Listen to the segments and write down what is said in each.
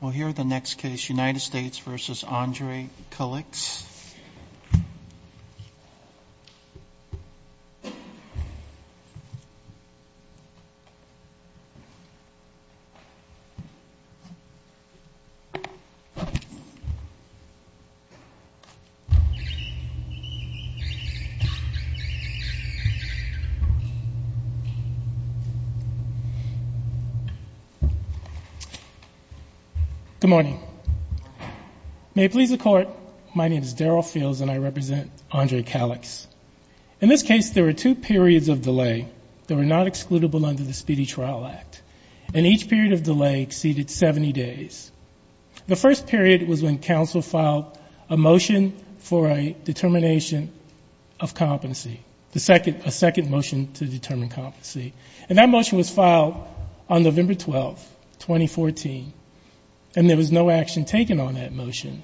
We'll hear the next case, United States v. Andrei Kaliks. Good morning. May it please the Court, my name is Daryl Fields and I represent Andrei Kaliks. In this case, there were two periods of delay that were not excludable under the Speedy Trial Act. And each period of delay exceeded 70 days. The first period was when counsel filed a motion for a determination of competency, a second motion to determine competency. And that motion was filed on November 12, 2014. And there was no action taken on that motion,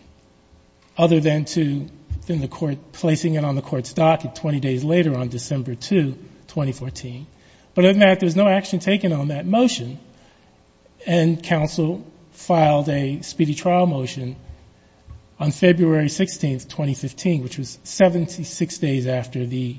other than the court placing it on the court's docket 20 days later on December 2, 2014. But other than that, there was no action taken on that motion. And counsel filed a speedy trial motion on February 16, 2015, which was 76 days after the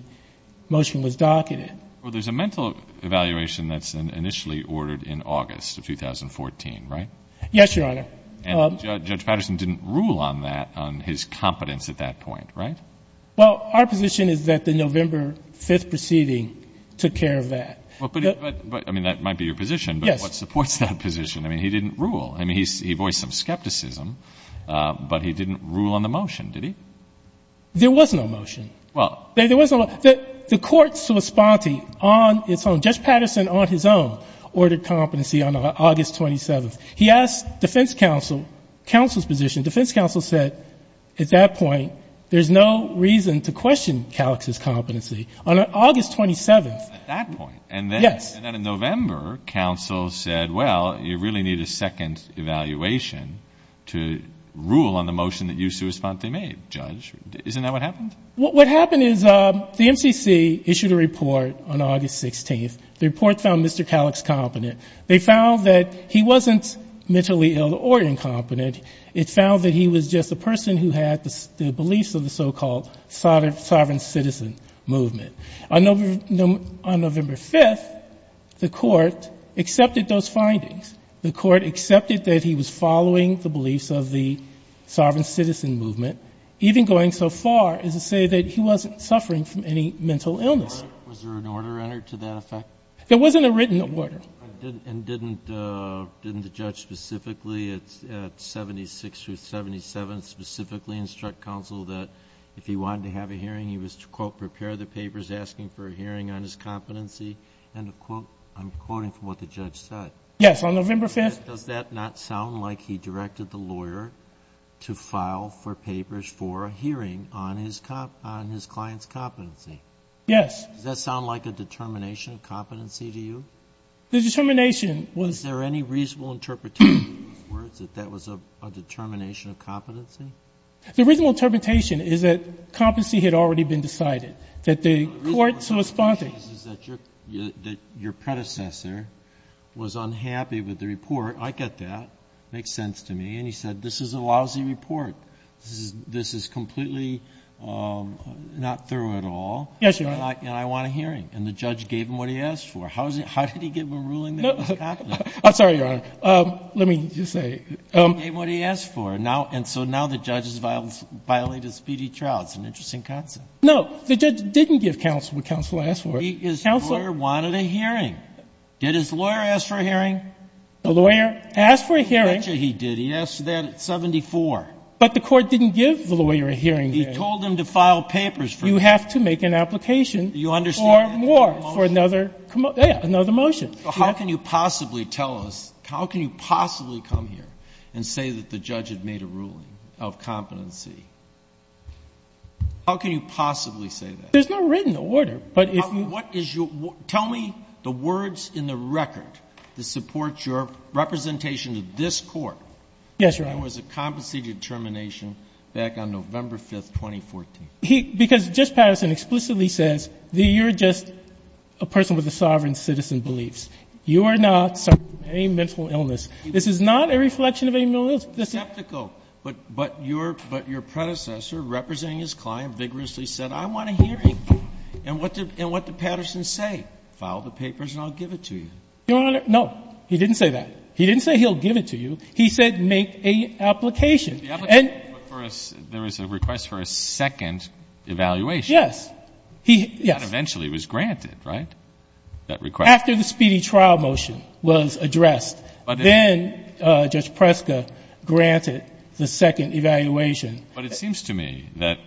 motion was docketed. Well, there's a mental evaluation that's initially ordered in August of 2014, right? Yes, Your Honor. And Judge Patterson didn't rule on that, on his competence at that point, right? Well, our position is that the November 5 proceeding took care of that. But, I mean, that might be your position. Yes. But what supports that position? I mean, he didn't rule. I mean, he voiced some skepticism, but he didn't rule on the motion, did he? There was no motion. Well. There was no motion. The court's sui sponte on its own, Judge Patterson on his own, ordered competency on August 27th. He asked defense counsel, counsel's position. Defense counsel said at that point, there's no reason to question Calix's competency on August 27th. At that point? Yes. And then in November, counsel said, well, you really need a second evaluation to rule on the motion that you sui sponte made, Judge. Isn't that what happened? What happened is the MCC issued a report on August 16th. The report found Mr. Calix competent. They found that he wasn't mentally ill or incompetent. It found that he was just a person who had the beliefs of the so-called sovereign citizen movement. On November 5th, the court accepted those findings. The court accepted that he was following the beliefs of the sovereign citizen movement, even going so far as to say that he wasn't suffering from any mental illness. Was there an order entered to that effect? There wasn't a written order. And didn't the judge specifically at 76 through 77 specifically instruct counsel that if he wanted to have a hearing, he was to, quote, prepare the papers asking for a hearing on his competency? End of quote. I'm quoting from what the judge said. Yes. On November 5th. Does that not sound like he directed the lawyer to file for papers for a hearing on his client's competency? Yes. Does that sound like a determination of competency to you? The determination was. Is there any reasonable interpretation that that was a determination of competency? The reasonable interpretation is that competency had already been decided. The court's response is that your predecessor was unhappy with the report. I get that. It makes sense to me. And he said, this is a lousy report. This is completely not thorough at all. Yes, Your Honor. And I want a hearing. And the judge gave him what he asked for. How did he get him a ruling that he was competent? I'm sorry, Your Honor. Let me just say. He gave him what he asked for. And so now the judge has violated speedy trial. It's an interesting concept. No. The judge didn't give counsel what counsel asked for. His lawyer wanted a hearing. Did his lawyer ask for a hearing? The lawyer asked for a hearing. He did. He asked for that at 74. But the court didn't give the lawyer a hearing. He told him to file papers. You have to make an application for more, for another motion. How can you possibly tell us, how can you possibly come here and say that the judge had made a ruling of competency? How can you possibly say that? There's no written order. Tell me the words in the record that support your representation to this court. Yes, Your Honor. There was a compensated termination back on November 5, 2014. Because Judge Patterson explicitly says that you're just a person with a sovereign citizen beliefs. You are not suffering from any mental illness. This is not a reflection of any mental illness. But your predecessor, representing his client, vigorously said, I want a hearing. And what did Patterson say? File the papers and I'll give it to you. Your Honor, no. He didn't say that. He didn't say he'll give it to you. He said make an application. There was a request for a second evaluation. Yes. That eventually was granted, right? That request. After the speedy trial motion was addressed. But then Judge Preska granted the second evaluation. But it seems to me that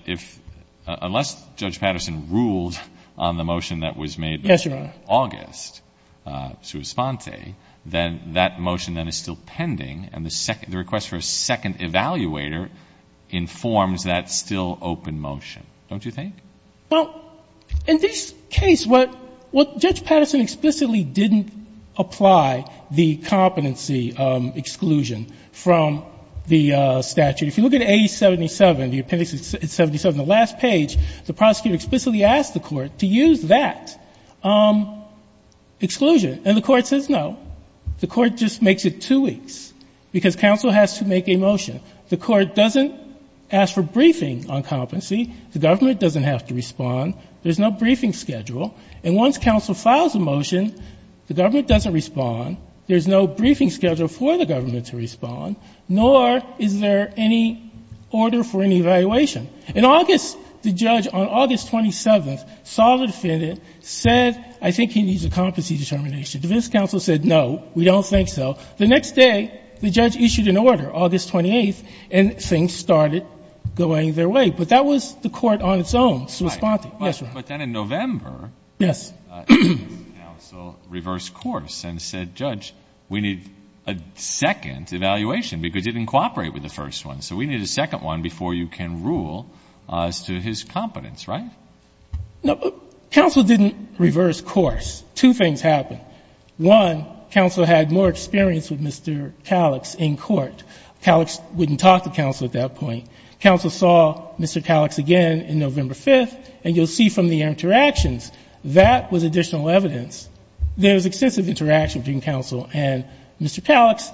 unless Judge Patterson ruled on the motion that was made. Yes, Your Honor. In August, sua sponte, then that motion is still pending. And the request for a second evaluator informs that still open motion. Don't you think? Well, in this case, what Judge Patterson explicitly didn't apply the competency exclusion from the statute. If you look at 877, the appendix 77, the last page, the prosecutor explicitly asked the court to use that exclusion. And the court says no. The court just makes it two weeks. Because counsel has to make a motion. The court doesn't ask for briefing on competency. The government doesn't have to respond. There's no briefing schedule. And once counsel files a motion, the government doesn't respond. There's no briefing schedule for the government to respond. Nor is there any order for any evaluation. In August, the judge on August 27th saw the defendant, said I think he needs a competency determination. The defense counsel said no. We don't think so. The next day, the judge issued an order, August 28th. And things started going their way. But that was the court on its own responding. Yes, Your Honor. But then in November. Yes. Counsel reversed course and said, Judge, we need a second evaluation because it didn't cooperate with the first one. So we need a second one before you can rule as to his competence. Right? No. Counsel didn't reverse course. Two things happened. One, counsel had more experience with Mr. Calix in court. Calix wouldn't talk to counsel at that point. Counsel saw Mr. Calix again in November 5th. And you'll see from the interactions, that was additional evidence. There was extensive interaction between counsel and Mr. Calix.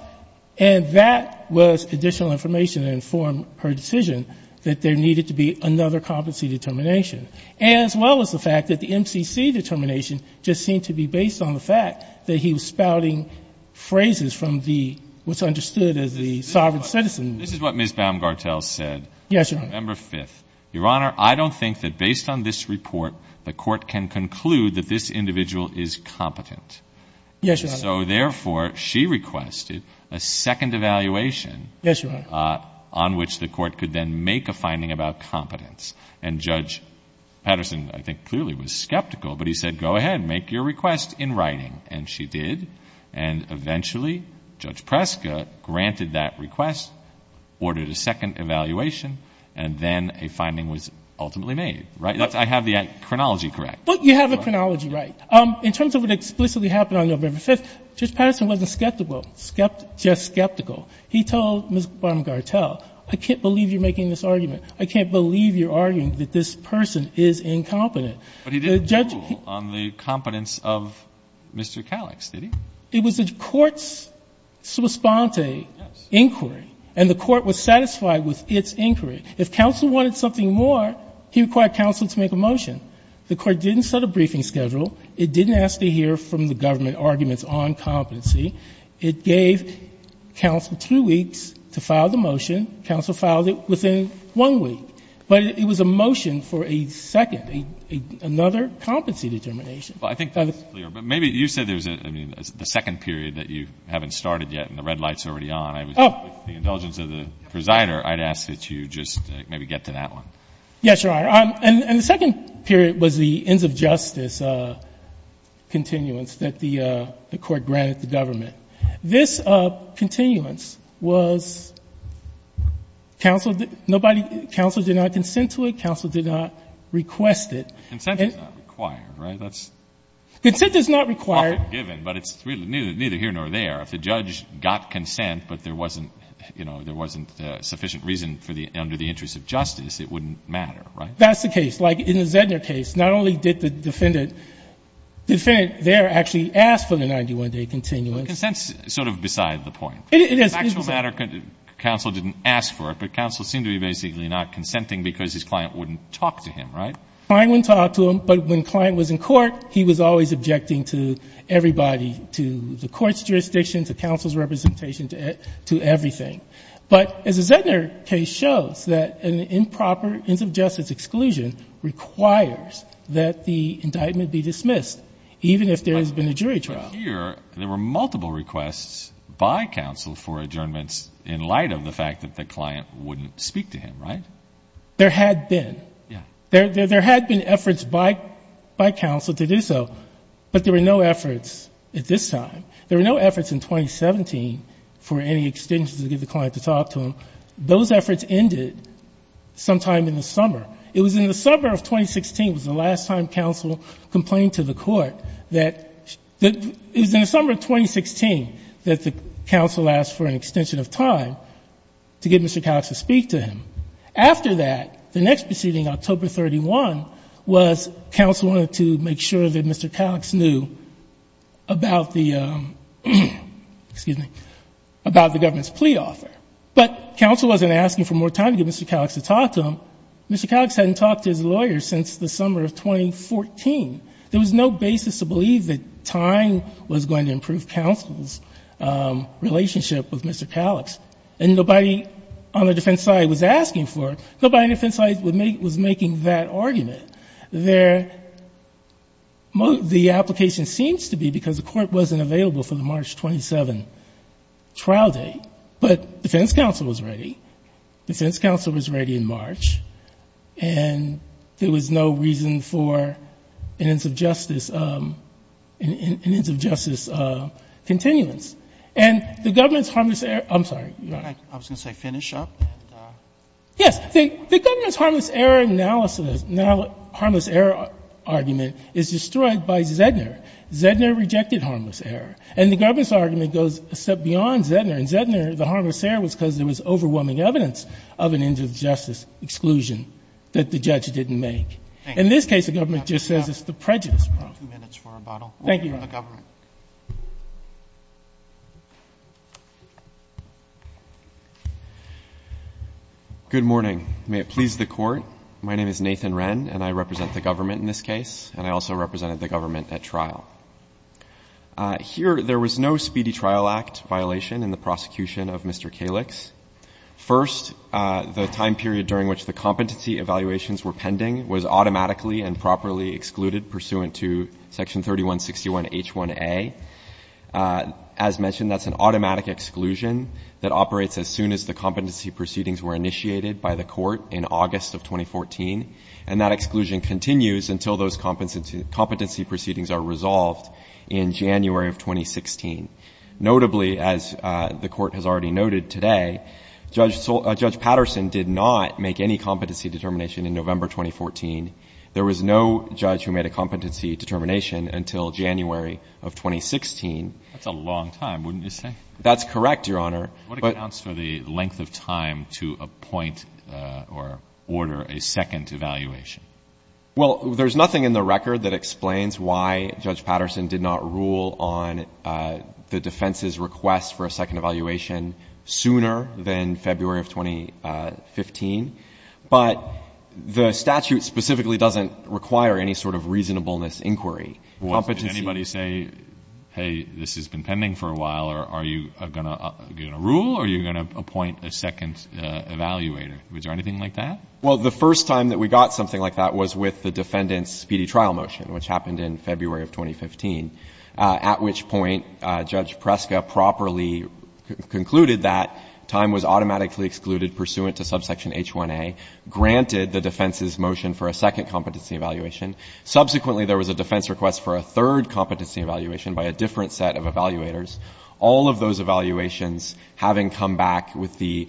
And that was additional information to inform her decision that there needed to be another competency determination, as well as the fact that the MCC determination just seemed to be based on the fact that he was spouting phrases from the what's understood as the sovereign citizen. This is what Ms. Baumgartel said. Yes, Your Honor. November 5th. Your Honor, I don't think that based on this report, the court can conclude that this individual is competent. Yes, Your Honor. So therefore, she requested a second evaluation. Yes, Your Honor. On which the court could then make a finding about competence. And Judge Patterson, I think, clearly was skeptical. But he said, go ahead, make your request in writing. And she did. And eventually, Judge Preska granted that request, ordered a second evaluation, and then a finding was ultimately made. Right? I have the chronology correct. But you have the chronology right. In terms of what explicitly happened on November 5th, Judge Patterson wasn't skeptical, just skeptical. He told Ms. Baumgartel, I can't believe you're making this argument. I can't believe you're arguing that this person is incompetent. But he didn't rule on the competence of Mr. Calix, did he? It was the court's sua sponte inquiry. And the court was satisfied with its inquiry. If counsel wanted something more, he required counsel to make a motion. The court didn't set a briefing schedule. It didn't ask to hear from the government arguments on competency. It gave counsel two weeks to file the motion. Counsel filed it within one week. But it was a motion for a second, another competency determination. Well, I think that's clear. But maybe you said there's a second period that you haven't started yet and the red light's already on. With the indulgence of the presider, I'd ask that you just maybe get to that one. Yes, Your Honor. And the second period was the ends of justice continuance that the court granted the government. This continuance was counsel did not consent to it. Counsel did not request it. Consent is not required. Right? That's often given, but it's neither here nor there. If the judge got consent, but there wasn't, you know, there wasn't sufficient reason under the interest of justice, it wouldn't matter, right? That's the case. Like in the Zedner case, not only did the defendant there actually ask for the 91-day continuance. Consent's sort of beside the point. It is. The actual matter, counsel didn't ask for it, but counsel seemed to be basically not consenting because his client wouldn't talk to him, right? Client wouldn't talk to him, but when client was in court, he was always objecting to everybody, to the court's jurisdiction, to counsel's representation, to everything. But as the Zedner case shows, that an improper ends of justice exclusion requires that the indictment be dismissed, even if there has been a jury trial. But here, there were multiple requests by counsel for adjournments in light of the fact that the client wouldn't speak to him, right? There had been. Yeah. There had been efforts by counsel to do so, but there were no efforts at this time. There were no efforts in 2017 for any extensions to get the client to talk to him. Those efforts ended sometime in the summer. It was in the summer of 2016, it was the last time counsel complained to the Court, that it was in the summer of 2016 that the counsel asked for an extension of time to get Mr. Cox to speak to him. After that, the next proceeding, October 31, was counsel wanted to make sure that Mr. Cox knew about the government's plea offer. But counsel wasn't asking for more time to get Mr. Cox to talk to him. Mr. Cox hadn't talked to his lawyer since the summer of 2014. There was no basis to believe that time was going to improve counsel's relationship with Mr. Cox. And nobody on the defense side was asking for it. Nobody on the defense side was making that argument. The application seems to be because the Court wasn't available for the March 27 trial date, but defense counsel was ready. Defense counsel was ready in March, and there was no reason for an ends of justice continuance. And the government's harmless error, I'm sorry. I was going to say finish up. Yes. The government's harmless error analysis, harmless error argument is destroyed by Zedner. Zedner rejected harmless error. And the government's argument goes a step beyond Zedner. In Zedner, the harmless error was because there was overwhelming evidence of an ends of justice exclusion that the judge didn't make. In this case, the government just says it's the prejudice problem. Two minutes for rebuttal. Thank you. The government. Good morning. May it please the Court. My name is Nathan Wren, and I represent the government in this case, and I also represented the government at trial. Here, there was no Speedy Trial Act violation in the prosecution of Mr. Kalix. First, the time period during which the competency evaluations were pending was automatically and properly excluded pursuant to Section 3161H1A. As mentioned, that's an automatic exclusion that operates as soon as the competency proceedings were initiated by the court in August of 2014. And that exclusion continues until those competency proceedings are resolved in January of 2016. Notably, as the Court has already noted today, Judge Patterson did not make any competency determination in November 2014. There was no judge who made a competency determination until January of 2016. That's a long time, wouldn't you say? That's correct, Your Honor. What accounts for the length of time to appoint or order a second evaluation? Well, there's nothing in the record that explains why Judge Patterson did not rule on the defense's request for a second evaluation sooner than February of 2015. But the statute specifically doesn't require any sort of reasonableness inquiry. Did anybody say, hey, this has been pending for a while, or are you going to rule, or are you going to appoint a second evaluator? Was there anything like that? Well, the first time that we got something like that was with the defendant's speedy trial motion, which happened in February of 2015, at which point Judge Preska properly concluded that time was automatically excluded pursuant to subsection H1A, granted the defense's motion for a second competency evaluation. Subsequently, there was a defense request for a third competency evaluation by a different set of evaluators. All of those evaluations, having come back with the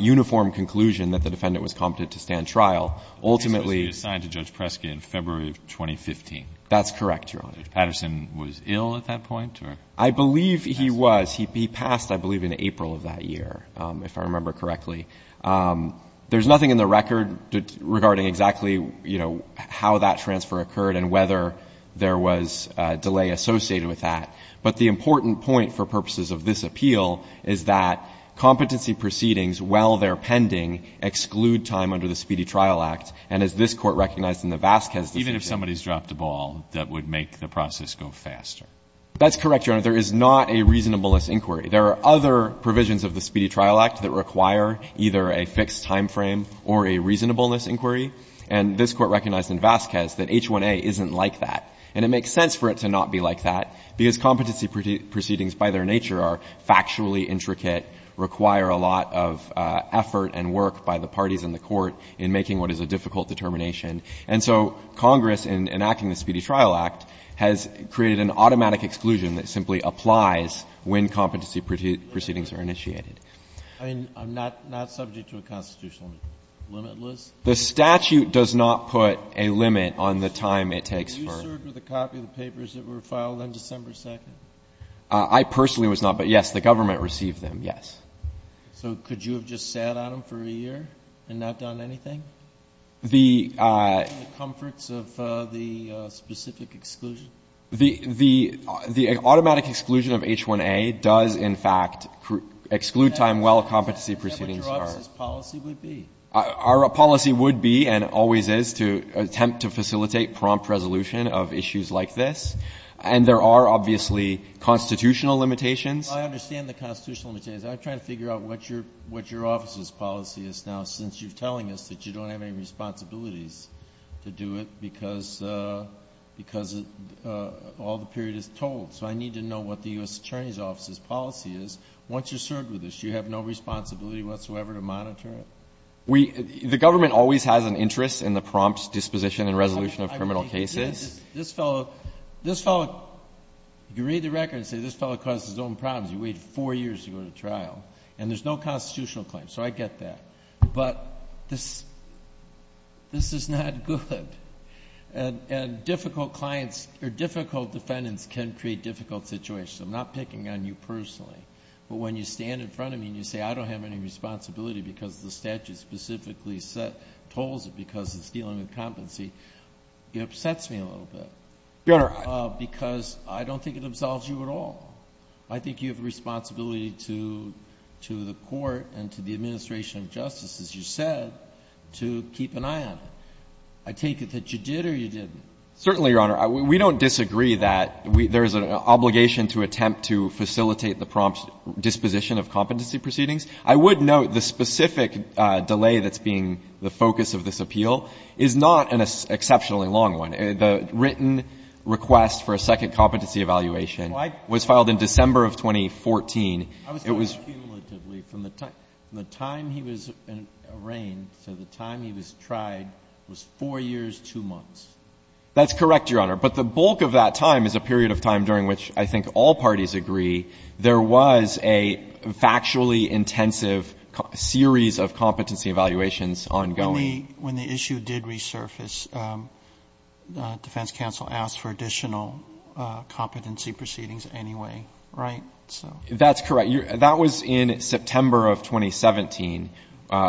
uniform conclusion that the defendant was competent to stand trial, ultimately. The defense was reassigned to Judge Preska in February of 2015. That's correct, Your Honor. Judge Patterson was ill at that point, or? I believe he was. He passed, I believe, in April of that year, if I remember correctly. There's nothing in the record regarding exactly, you know, how that transfer occurred and whether there was a delay associated with that. But the important point for purposes of this appeal is that competency proceedings, while they're pending, exclude time under the Speedy Trial Act. And as this Court recognized in the Vasquez decision. Even if somebody's dropped a ball, that would make the process go faster. That's correct, Your Honor. There is not a reasonableness inquiry. There are other provisions of the Speedy Trial Act that require either a fixed timeframe or a reasonableness inquiry. And this Court recognized in Vasquez that H1A isn't like that. And it makes sense for it to not be like that, because competency proceedings by their nature are factually intricate, require a lot of effort and work by the parties in the Court in making what is a difficult determination. And so Congress, in enacting the Speedy Trial Act, has created an automatic exclusion that simply applies when competency proceedings are initiated. I mean, I'm not subject to a constitutional limit, Liz. The statute does not put a limit on the time it takes for. Did you serve with a copy of the papers that were filed on December 2nd? I personally was not. But, yes, the government received them, yes. So could you have just sat on them for a year and not done anything? The. In the comforts of the specific exclusion. The automatic exclusion of H1A does, in fact, exclude time while competency proceedings are. That would drop as policy would be. Our policy would be and always is to attempt to facilitate prompt resolution of issues like this. And there are obviously constitutional limitations. Well, I understand the constitutional limitations. I'm trying to figure out what your office's policy is now, since you're telling us that you don't have any responsibilities to do it because all the period is told. So I need to know what the U.S. Attorney's Office's policy is. Once you've served with us, you have no responsibility whatsoever to monitor it? We. The government always has an interest in the prompt disposition and resolution of criminal cases. This fellow. This fellow. You read the record and say this fellow caused his own problems. You wait four years to go to trial. And there's no constitutional claim. So I get that. But this. This is not good. And difficult clients or difficult defendants can create difficult situations. I'm not picking on you personally. But when you stand in front of me and you say I don't have any responsibility because the statute specifically set tolls because it's dealing with competency, it upsets me a little bit. Your Honor. Because I don't think it absolves you at all. I think you have a responsibility to the court and to the administration of justice, as you said, to keep an eye on it. I take it that you did or you didn't. Certainly, Your Honor. We don't disagree that there's an obligation to attempt to facilitate the prompt disposition of competency proceedings. I would note the specific delay that's being the focus of this appeal is not an exceptionally long one. The written request for a second competency evaluation was filed in December of 2014. It was. I was talking cumulatively. From the time he was arraigned to the time he was tried was four years, two months. That's correct, Your Honor. But the bulk of that time is a period of time during which I think all parties agree there was a factually intensive series of competency evaluations ongoing. When the issue did resurface, defense counsel asked for additional competency proceedings anyway, right? That's correct. That was in September of 2017,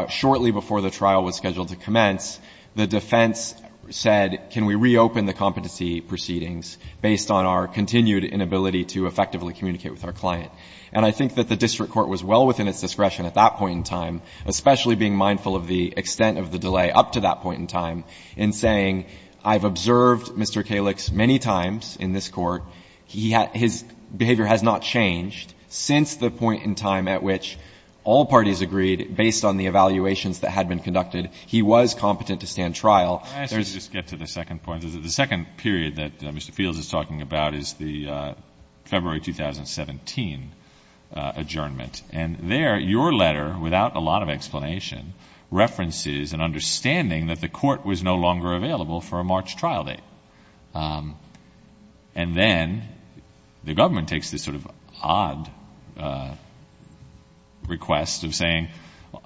shortly before the trial was scheduled to commence. The defense said, can we reopen the competency proceedings based on our continued inability to effectively communicate with our client? And I think that the district court was well within its discretion at that point in time, especially being mindful of the extent of the delay up to that point in time in saying, I've observed Mr. Kalich's many times in this court. He had his behavior has not changed since the point in time at which all parties agreed, based on the evaluations that had been conducted, he was competent to stand trial. Can I ask you to just get to the second point? The second period that Mr. Fields is talking about is the February 2017 adjournment. And there, your letter, without a lot of explanation, references an understanding that the court was no longer available for a March trial date. And then, the government takes this sort of odd request of saying,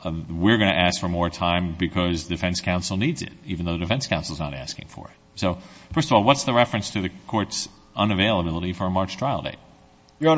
we're going to ask for more time because defense counsel needs it, even though the defense counsel is not asking for it. So, first of all, what's the reference to the court's unavailability for a March trial date? Your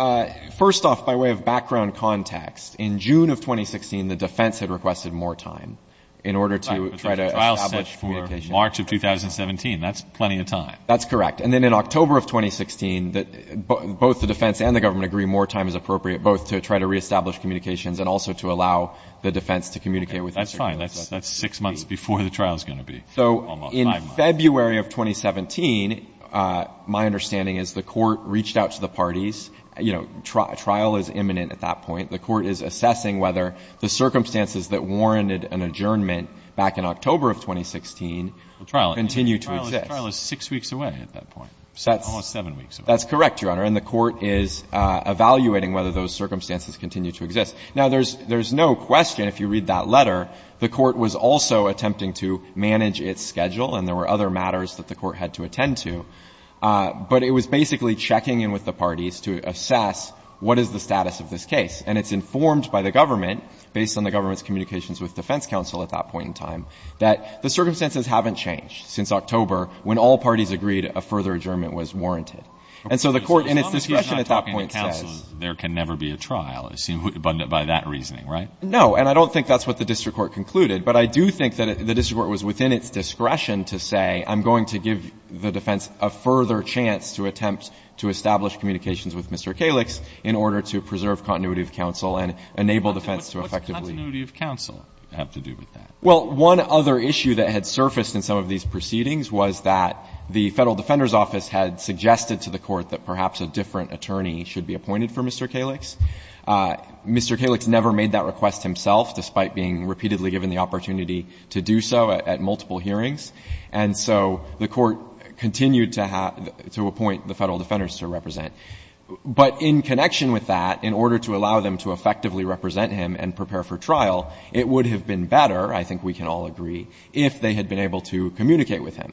Honor, first off, by way of background context, in June of 2016, the defense had requested more time in order to try to establish communication. Right, but there's a trial set for March of 2017. That's plenty of time. That's correct. And then, in October of 2016, both the defense and the government agree more time is appropriate, both to try to reestablish communications and also to allow the defense to communicate with Mr. Kalich. That's fine. That's six months before the trial is going to be. Almost five months. So, in February of 2017, my understanding is the court reached out to the parties. You know, trial is imminent at that point. The court is assessing whether the circumstances that warranted an adjournment back in October of 2016 continue to exist. The trial is six weeks away at that point, almost seven weeks away. That's correct, Your Honor. And the court is evaluating whether those circumstances continue to exist. Now, there's no question, if you read that letter, the court was also attempting to manage its schedule, and there were other matters that the court had to attend to. But it was basically checking in with the parties to assess what is the status of this case. And it's informed by the government, based on the government's communications with defense counsel at that point in time, that the circumstances haven't changed since October, when all parties agreed a further adjournment was warranted. And so the court, in its discretion at that point, says — As long as he's not talking to counsel, there can never be a trial, I assume, by that reasoning, right? And I don't think that's what the district court concluded. But I do think that the district court was within its discretion to say, I'm going to give the defense a further chance to attempt to establish communications with Mr. Kalix in order to preserve continuity of counsel and enable defense to effectively — What does continuity of counsel have to do with that? Well, one other issue that had surfaced in some of these proceedings was that the Federal Defender's Office had suggested to the court that perhaps a different attorney should be appointed for Mr. Kalix. Mr. Kalix never made that request himself, despite being repeatedly given the opportunity to do so at multiple hearings. And so the court continued to appoint the Federal Defenders to represent. But in connection with that, in order to allow them to effectively represent him and prepare for trial, it would have been better, I think we can all agree, if they had been able to communicate with him.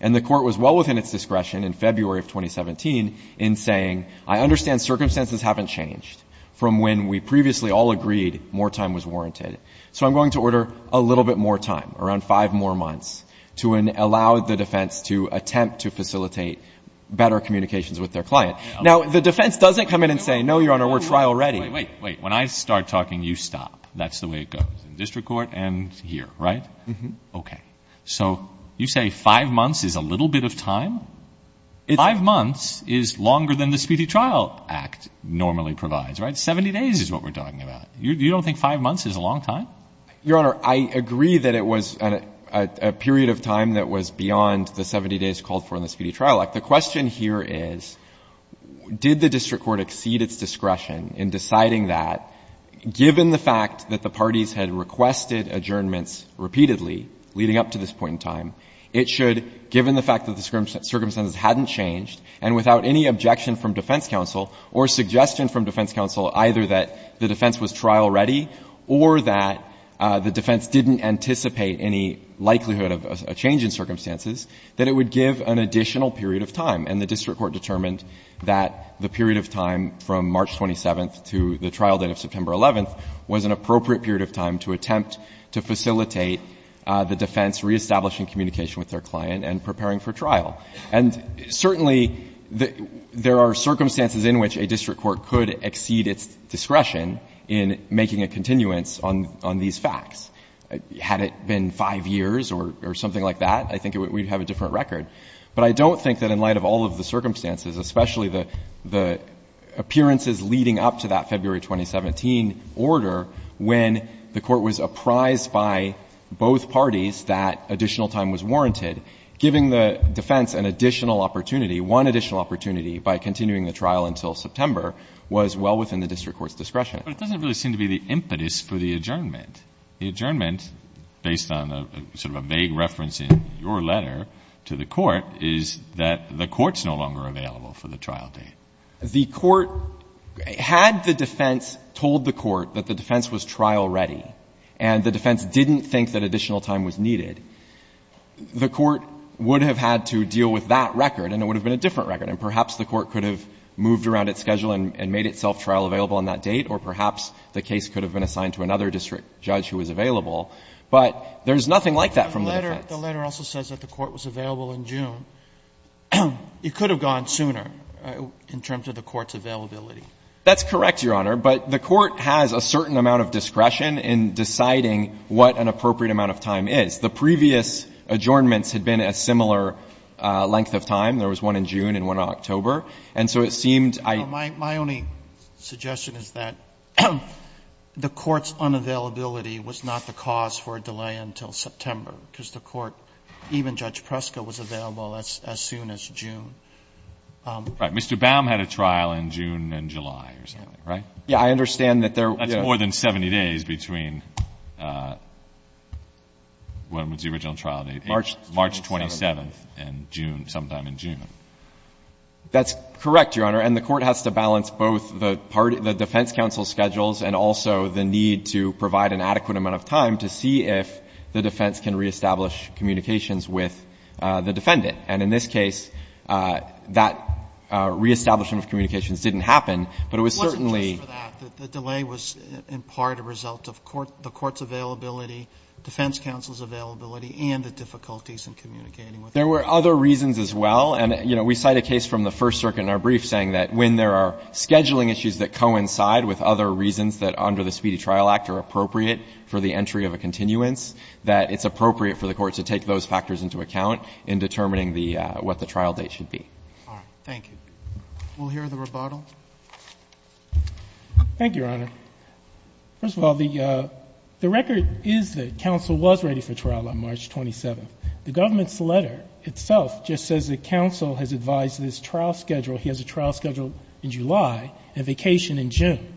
And the court was well within its discretion in February of 2017 in saying, I understand circumstances haven't changed from when we previously all agreed more time was warranted. So I'm going to order a little bit more time, around five more months, to allow the defense to attempt to facilitate better communications with their client. Now, the defense doesn't come in and say, no, Your Honor, we're trial ready. Wait, wait, wait. When I start talking, you stop. That's the way it goes in district court and here, right? Mm-hmm. Okay. So you say five months is a little bit of time? Five months is longer than the Speedy Trial Act normally provides, right? Seventy days is what we're talking about. You don't think five months is a long time? Your Honor, I agree that it was a period of time that was beyond the 70 days called for in the Speedy Trial Act. The question here is, did the district court exceed its discretion in deciding that, given the fact that the parties had requested adjournments repeatedly leading up to this point in time, it should, given the fact that the circumstances hadn't changed and without any objection from defense counsel or suggestion from defense counsel either that the defense was trial ready or that the defense didn't anticipate any likelihood of a change in circumstances, that it would give an additional period of time. And the district court determined that the period of time from March 27th to the trial date of September 11th was an appropriate period of time to attempt to facilitate the defense reestablishing communication with their client and preparing for trial. And certainly, there are circumstances in which a district court could exceed its discretion in making a continuance on these facts. Had it been five years or something like that, I think we'd have a different record. But I don't think that in light of all of the circumstances, especially the appearances leading up to that February 2017 order when the court was apprised by both parties that additional time was warranted, giving the defense an additional opportunity, one additional opportunity by continuing the trial until September was well within the district court's discretion. But it doesn't really seem to be the impetus for the adjournment. The adjournment, based on sort of a vague reference in your letter to the court, is that the court's no longer available for the trial date. The court had the defense told the court that the defense was trial ready, and the court would have had to deal with that record, and it would have been a different record. And perhaps the court could have moved around its schedule and made itself trial available on that date, or perhaps the case could have been assigned to another district judge who was available. But there's nothing like that from the defense. The letter also says that the court was available in June. It could have gone sooner in terms of the court's availability. That's correct, Your Honor. But the court has a certain amount of discretion in deciding what an appropriate amount of time is. The previous adjournments had been a similar length of time. There was one in June and one in October. And so it seemed I ---- My only suggestion is that the court's unavailability was not the cause for a delay until September, because the court, even Judge Preska, was available as soon as June. Right. Mr. Baum had a trial in June and July or something, right? Yes. I understand that there ---- That's more than 70 days between when was the original trial date? March 27th. March 27th and June, sometime in June. That's correct, Your Honor. And the court has to balance both the defense counsel's schedules and also the need to provide an adequate amount of time to see if the defense can reestablish communications with the defendant. And in this case, that reestablishment of communications didn't happen, but it was certainly ---- It was in part a result of the court's availability, defense counsel's availability, and the difficulties in communicating with the defendant. There were other reasons as well. And, you know, we cite a case from the First Circuit in our brief saying that when there are scheduling issues that coincide with other reasons that under the Speedy Trial Act are appropriate for the entry of a continuance, that it's appropriate for the court to take those factors into account in determining the ---- what the trial date should be. Thank you. We'll hear the rebuttal. Thank you, Your Honor. First of all, the record is that counsel was ready for trial on March 27th. The government's letter itself just says that counsel has advised this trial schedule he has a trial schedule in July and vacation in June.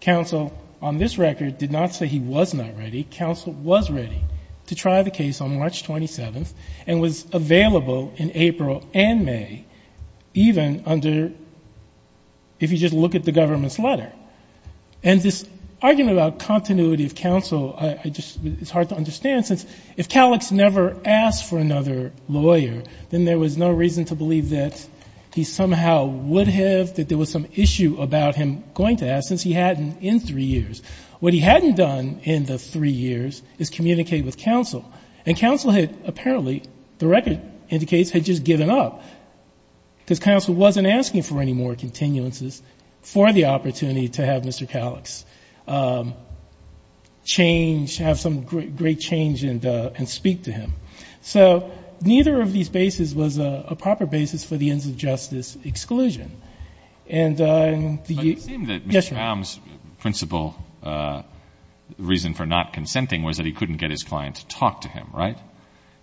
Counsel on this record did not say he was not ready. Counsel was ready to try the case on March 27th and was available in April and May, even under ---- if you just look at the government's letter. And this argument about continuity of counsel, I just ---- it's hard to understand since if Calix never asked for another lawyer, then there was no reason to believe that he somehow would have, that there was some issue about him going to ask since he hadn't in three years. What he hadn't done in the three years is communicate with counsel. And counsel had apparently, the record indicates, had just given up because counsel wasn't asking for any more continuances for the opportunity to have Mr. Calix change, have some great change and speak to him. So neither of these bases was a proper basis for the ends of justice exclusion. And the ---- But it seemed that Mr. Baum's principal reason for not consenting was that he couldn't get his client to talk to him, right?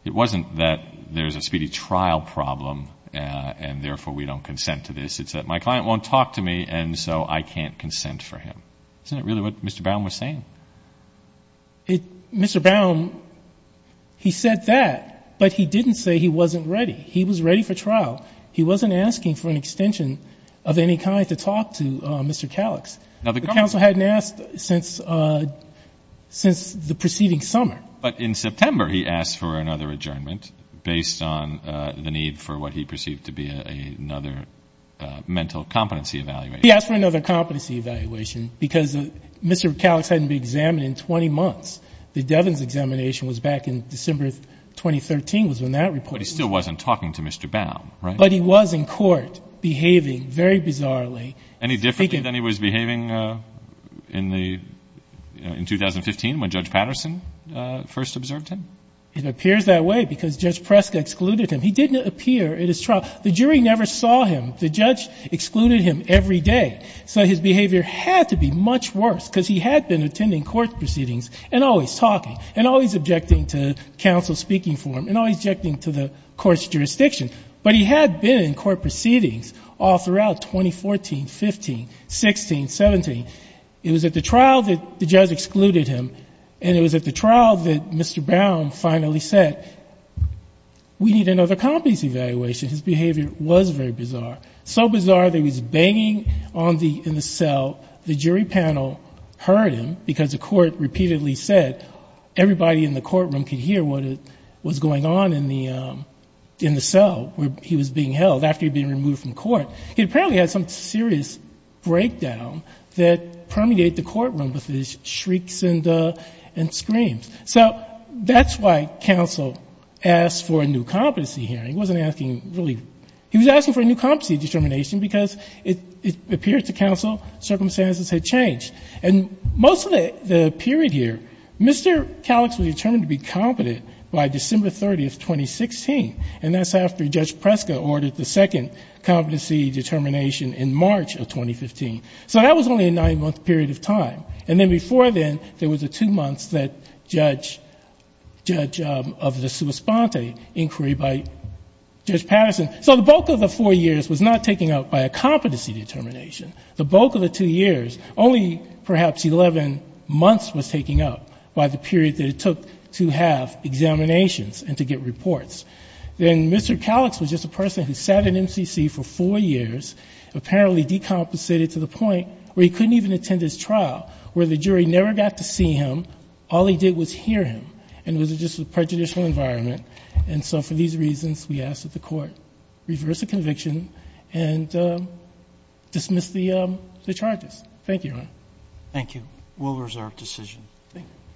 It wasn't that there's a speedy trial problem and, therefore, we don't consent to this. It's that my client won't talk to me and so I can't consent for him. Isn't that really what Mr. Baum was saying? It ---- Mr. Baum, he said that, but he didn't say he wasn't ready. He was ready for trial. He wasn't asking for an extension of any kind to talk to Mr. Calix. Now, the government ---- The counsel hadn't asked since the preceding summer. But in September he asked for another adjournment based on the need for what he perceived to be another mental competency evaluation. He asked for another competency evaluation because Mr. Calix hadn't been examined in 20 months. The Devens examination was back in December of 2013 was when that report was made. But he still wasn't talking to Mr. Baum, right? But he was in court behaving very bizarrely. Any differently than he was behaving in the ---- in 2015 when Judge Patterson first observed him? It appears that way because Judge Preska excluded him. He didn't appear at his trial. The jury never saw him. The judge excluded him every day. So his behavior had to be much worse because he had been attending court proceedings and always talking and always objecting to counsel speaking for him and always objecting to the court's jurisdiction. But he had been in court proceedings all throughout 2014, 15, 16, 17. It was at the trial that the judge excluded him. And it was at the trial that Mr. Baum finally said, we need another competency evaluation. His behavior was very bizarre, so bizarre that he was banging on the ---- in the cell. The jury panel heard him because the court repeatedly said, everybody in the courtroom could hear what was going on in the cell where he was being held after he'd been removed from court. He apparently had some serious breakdown that permeated the courtroom with his shrieks and screams. So that's why counsel asked for a new competency here. He wasn't asking really ---- he was asking for a new competency determination because it appeared to counsel circumstances had changed. And most of the period here, Mr. Kallix was determined to be competent by December 30th, 2016, and that's after Judge Preska ordered the second competency determination in March of 2015. So that was only a nine-month period of time. And then before then, there was the two months that Judge ---- Judge of the Supersponte inquired by Judge Patterson. So the bulk of the four years was not taken up by a competency determination. The bulk of the two years, only perhaps 11 months was taken up by the period that it took to have examinations and to get reports. Then Mr. Kallix was just a person who sat in MCC for four years, apparently decompensated to the point where he couldn't even attend his trial, where the jury never got to see him. All he did was hear him, and it was just a prejudicial environment. And so for these reasons, we ask that the court reverse the conviction and dismiss the charges. Thank you, Your Honor. Thank you. We'll reserve decision.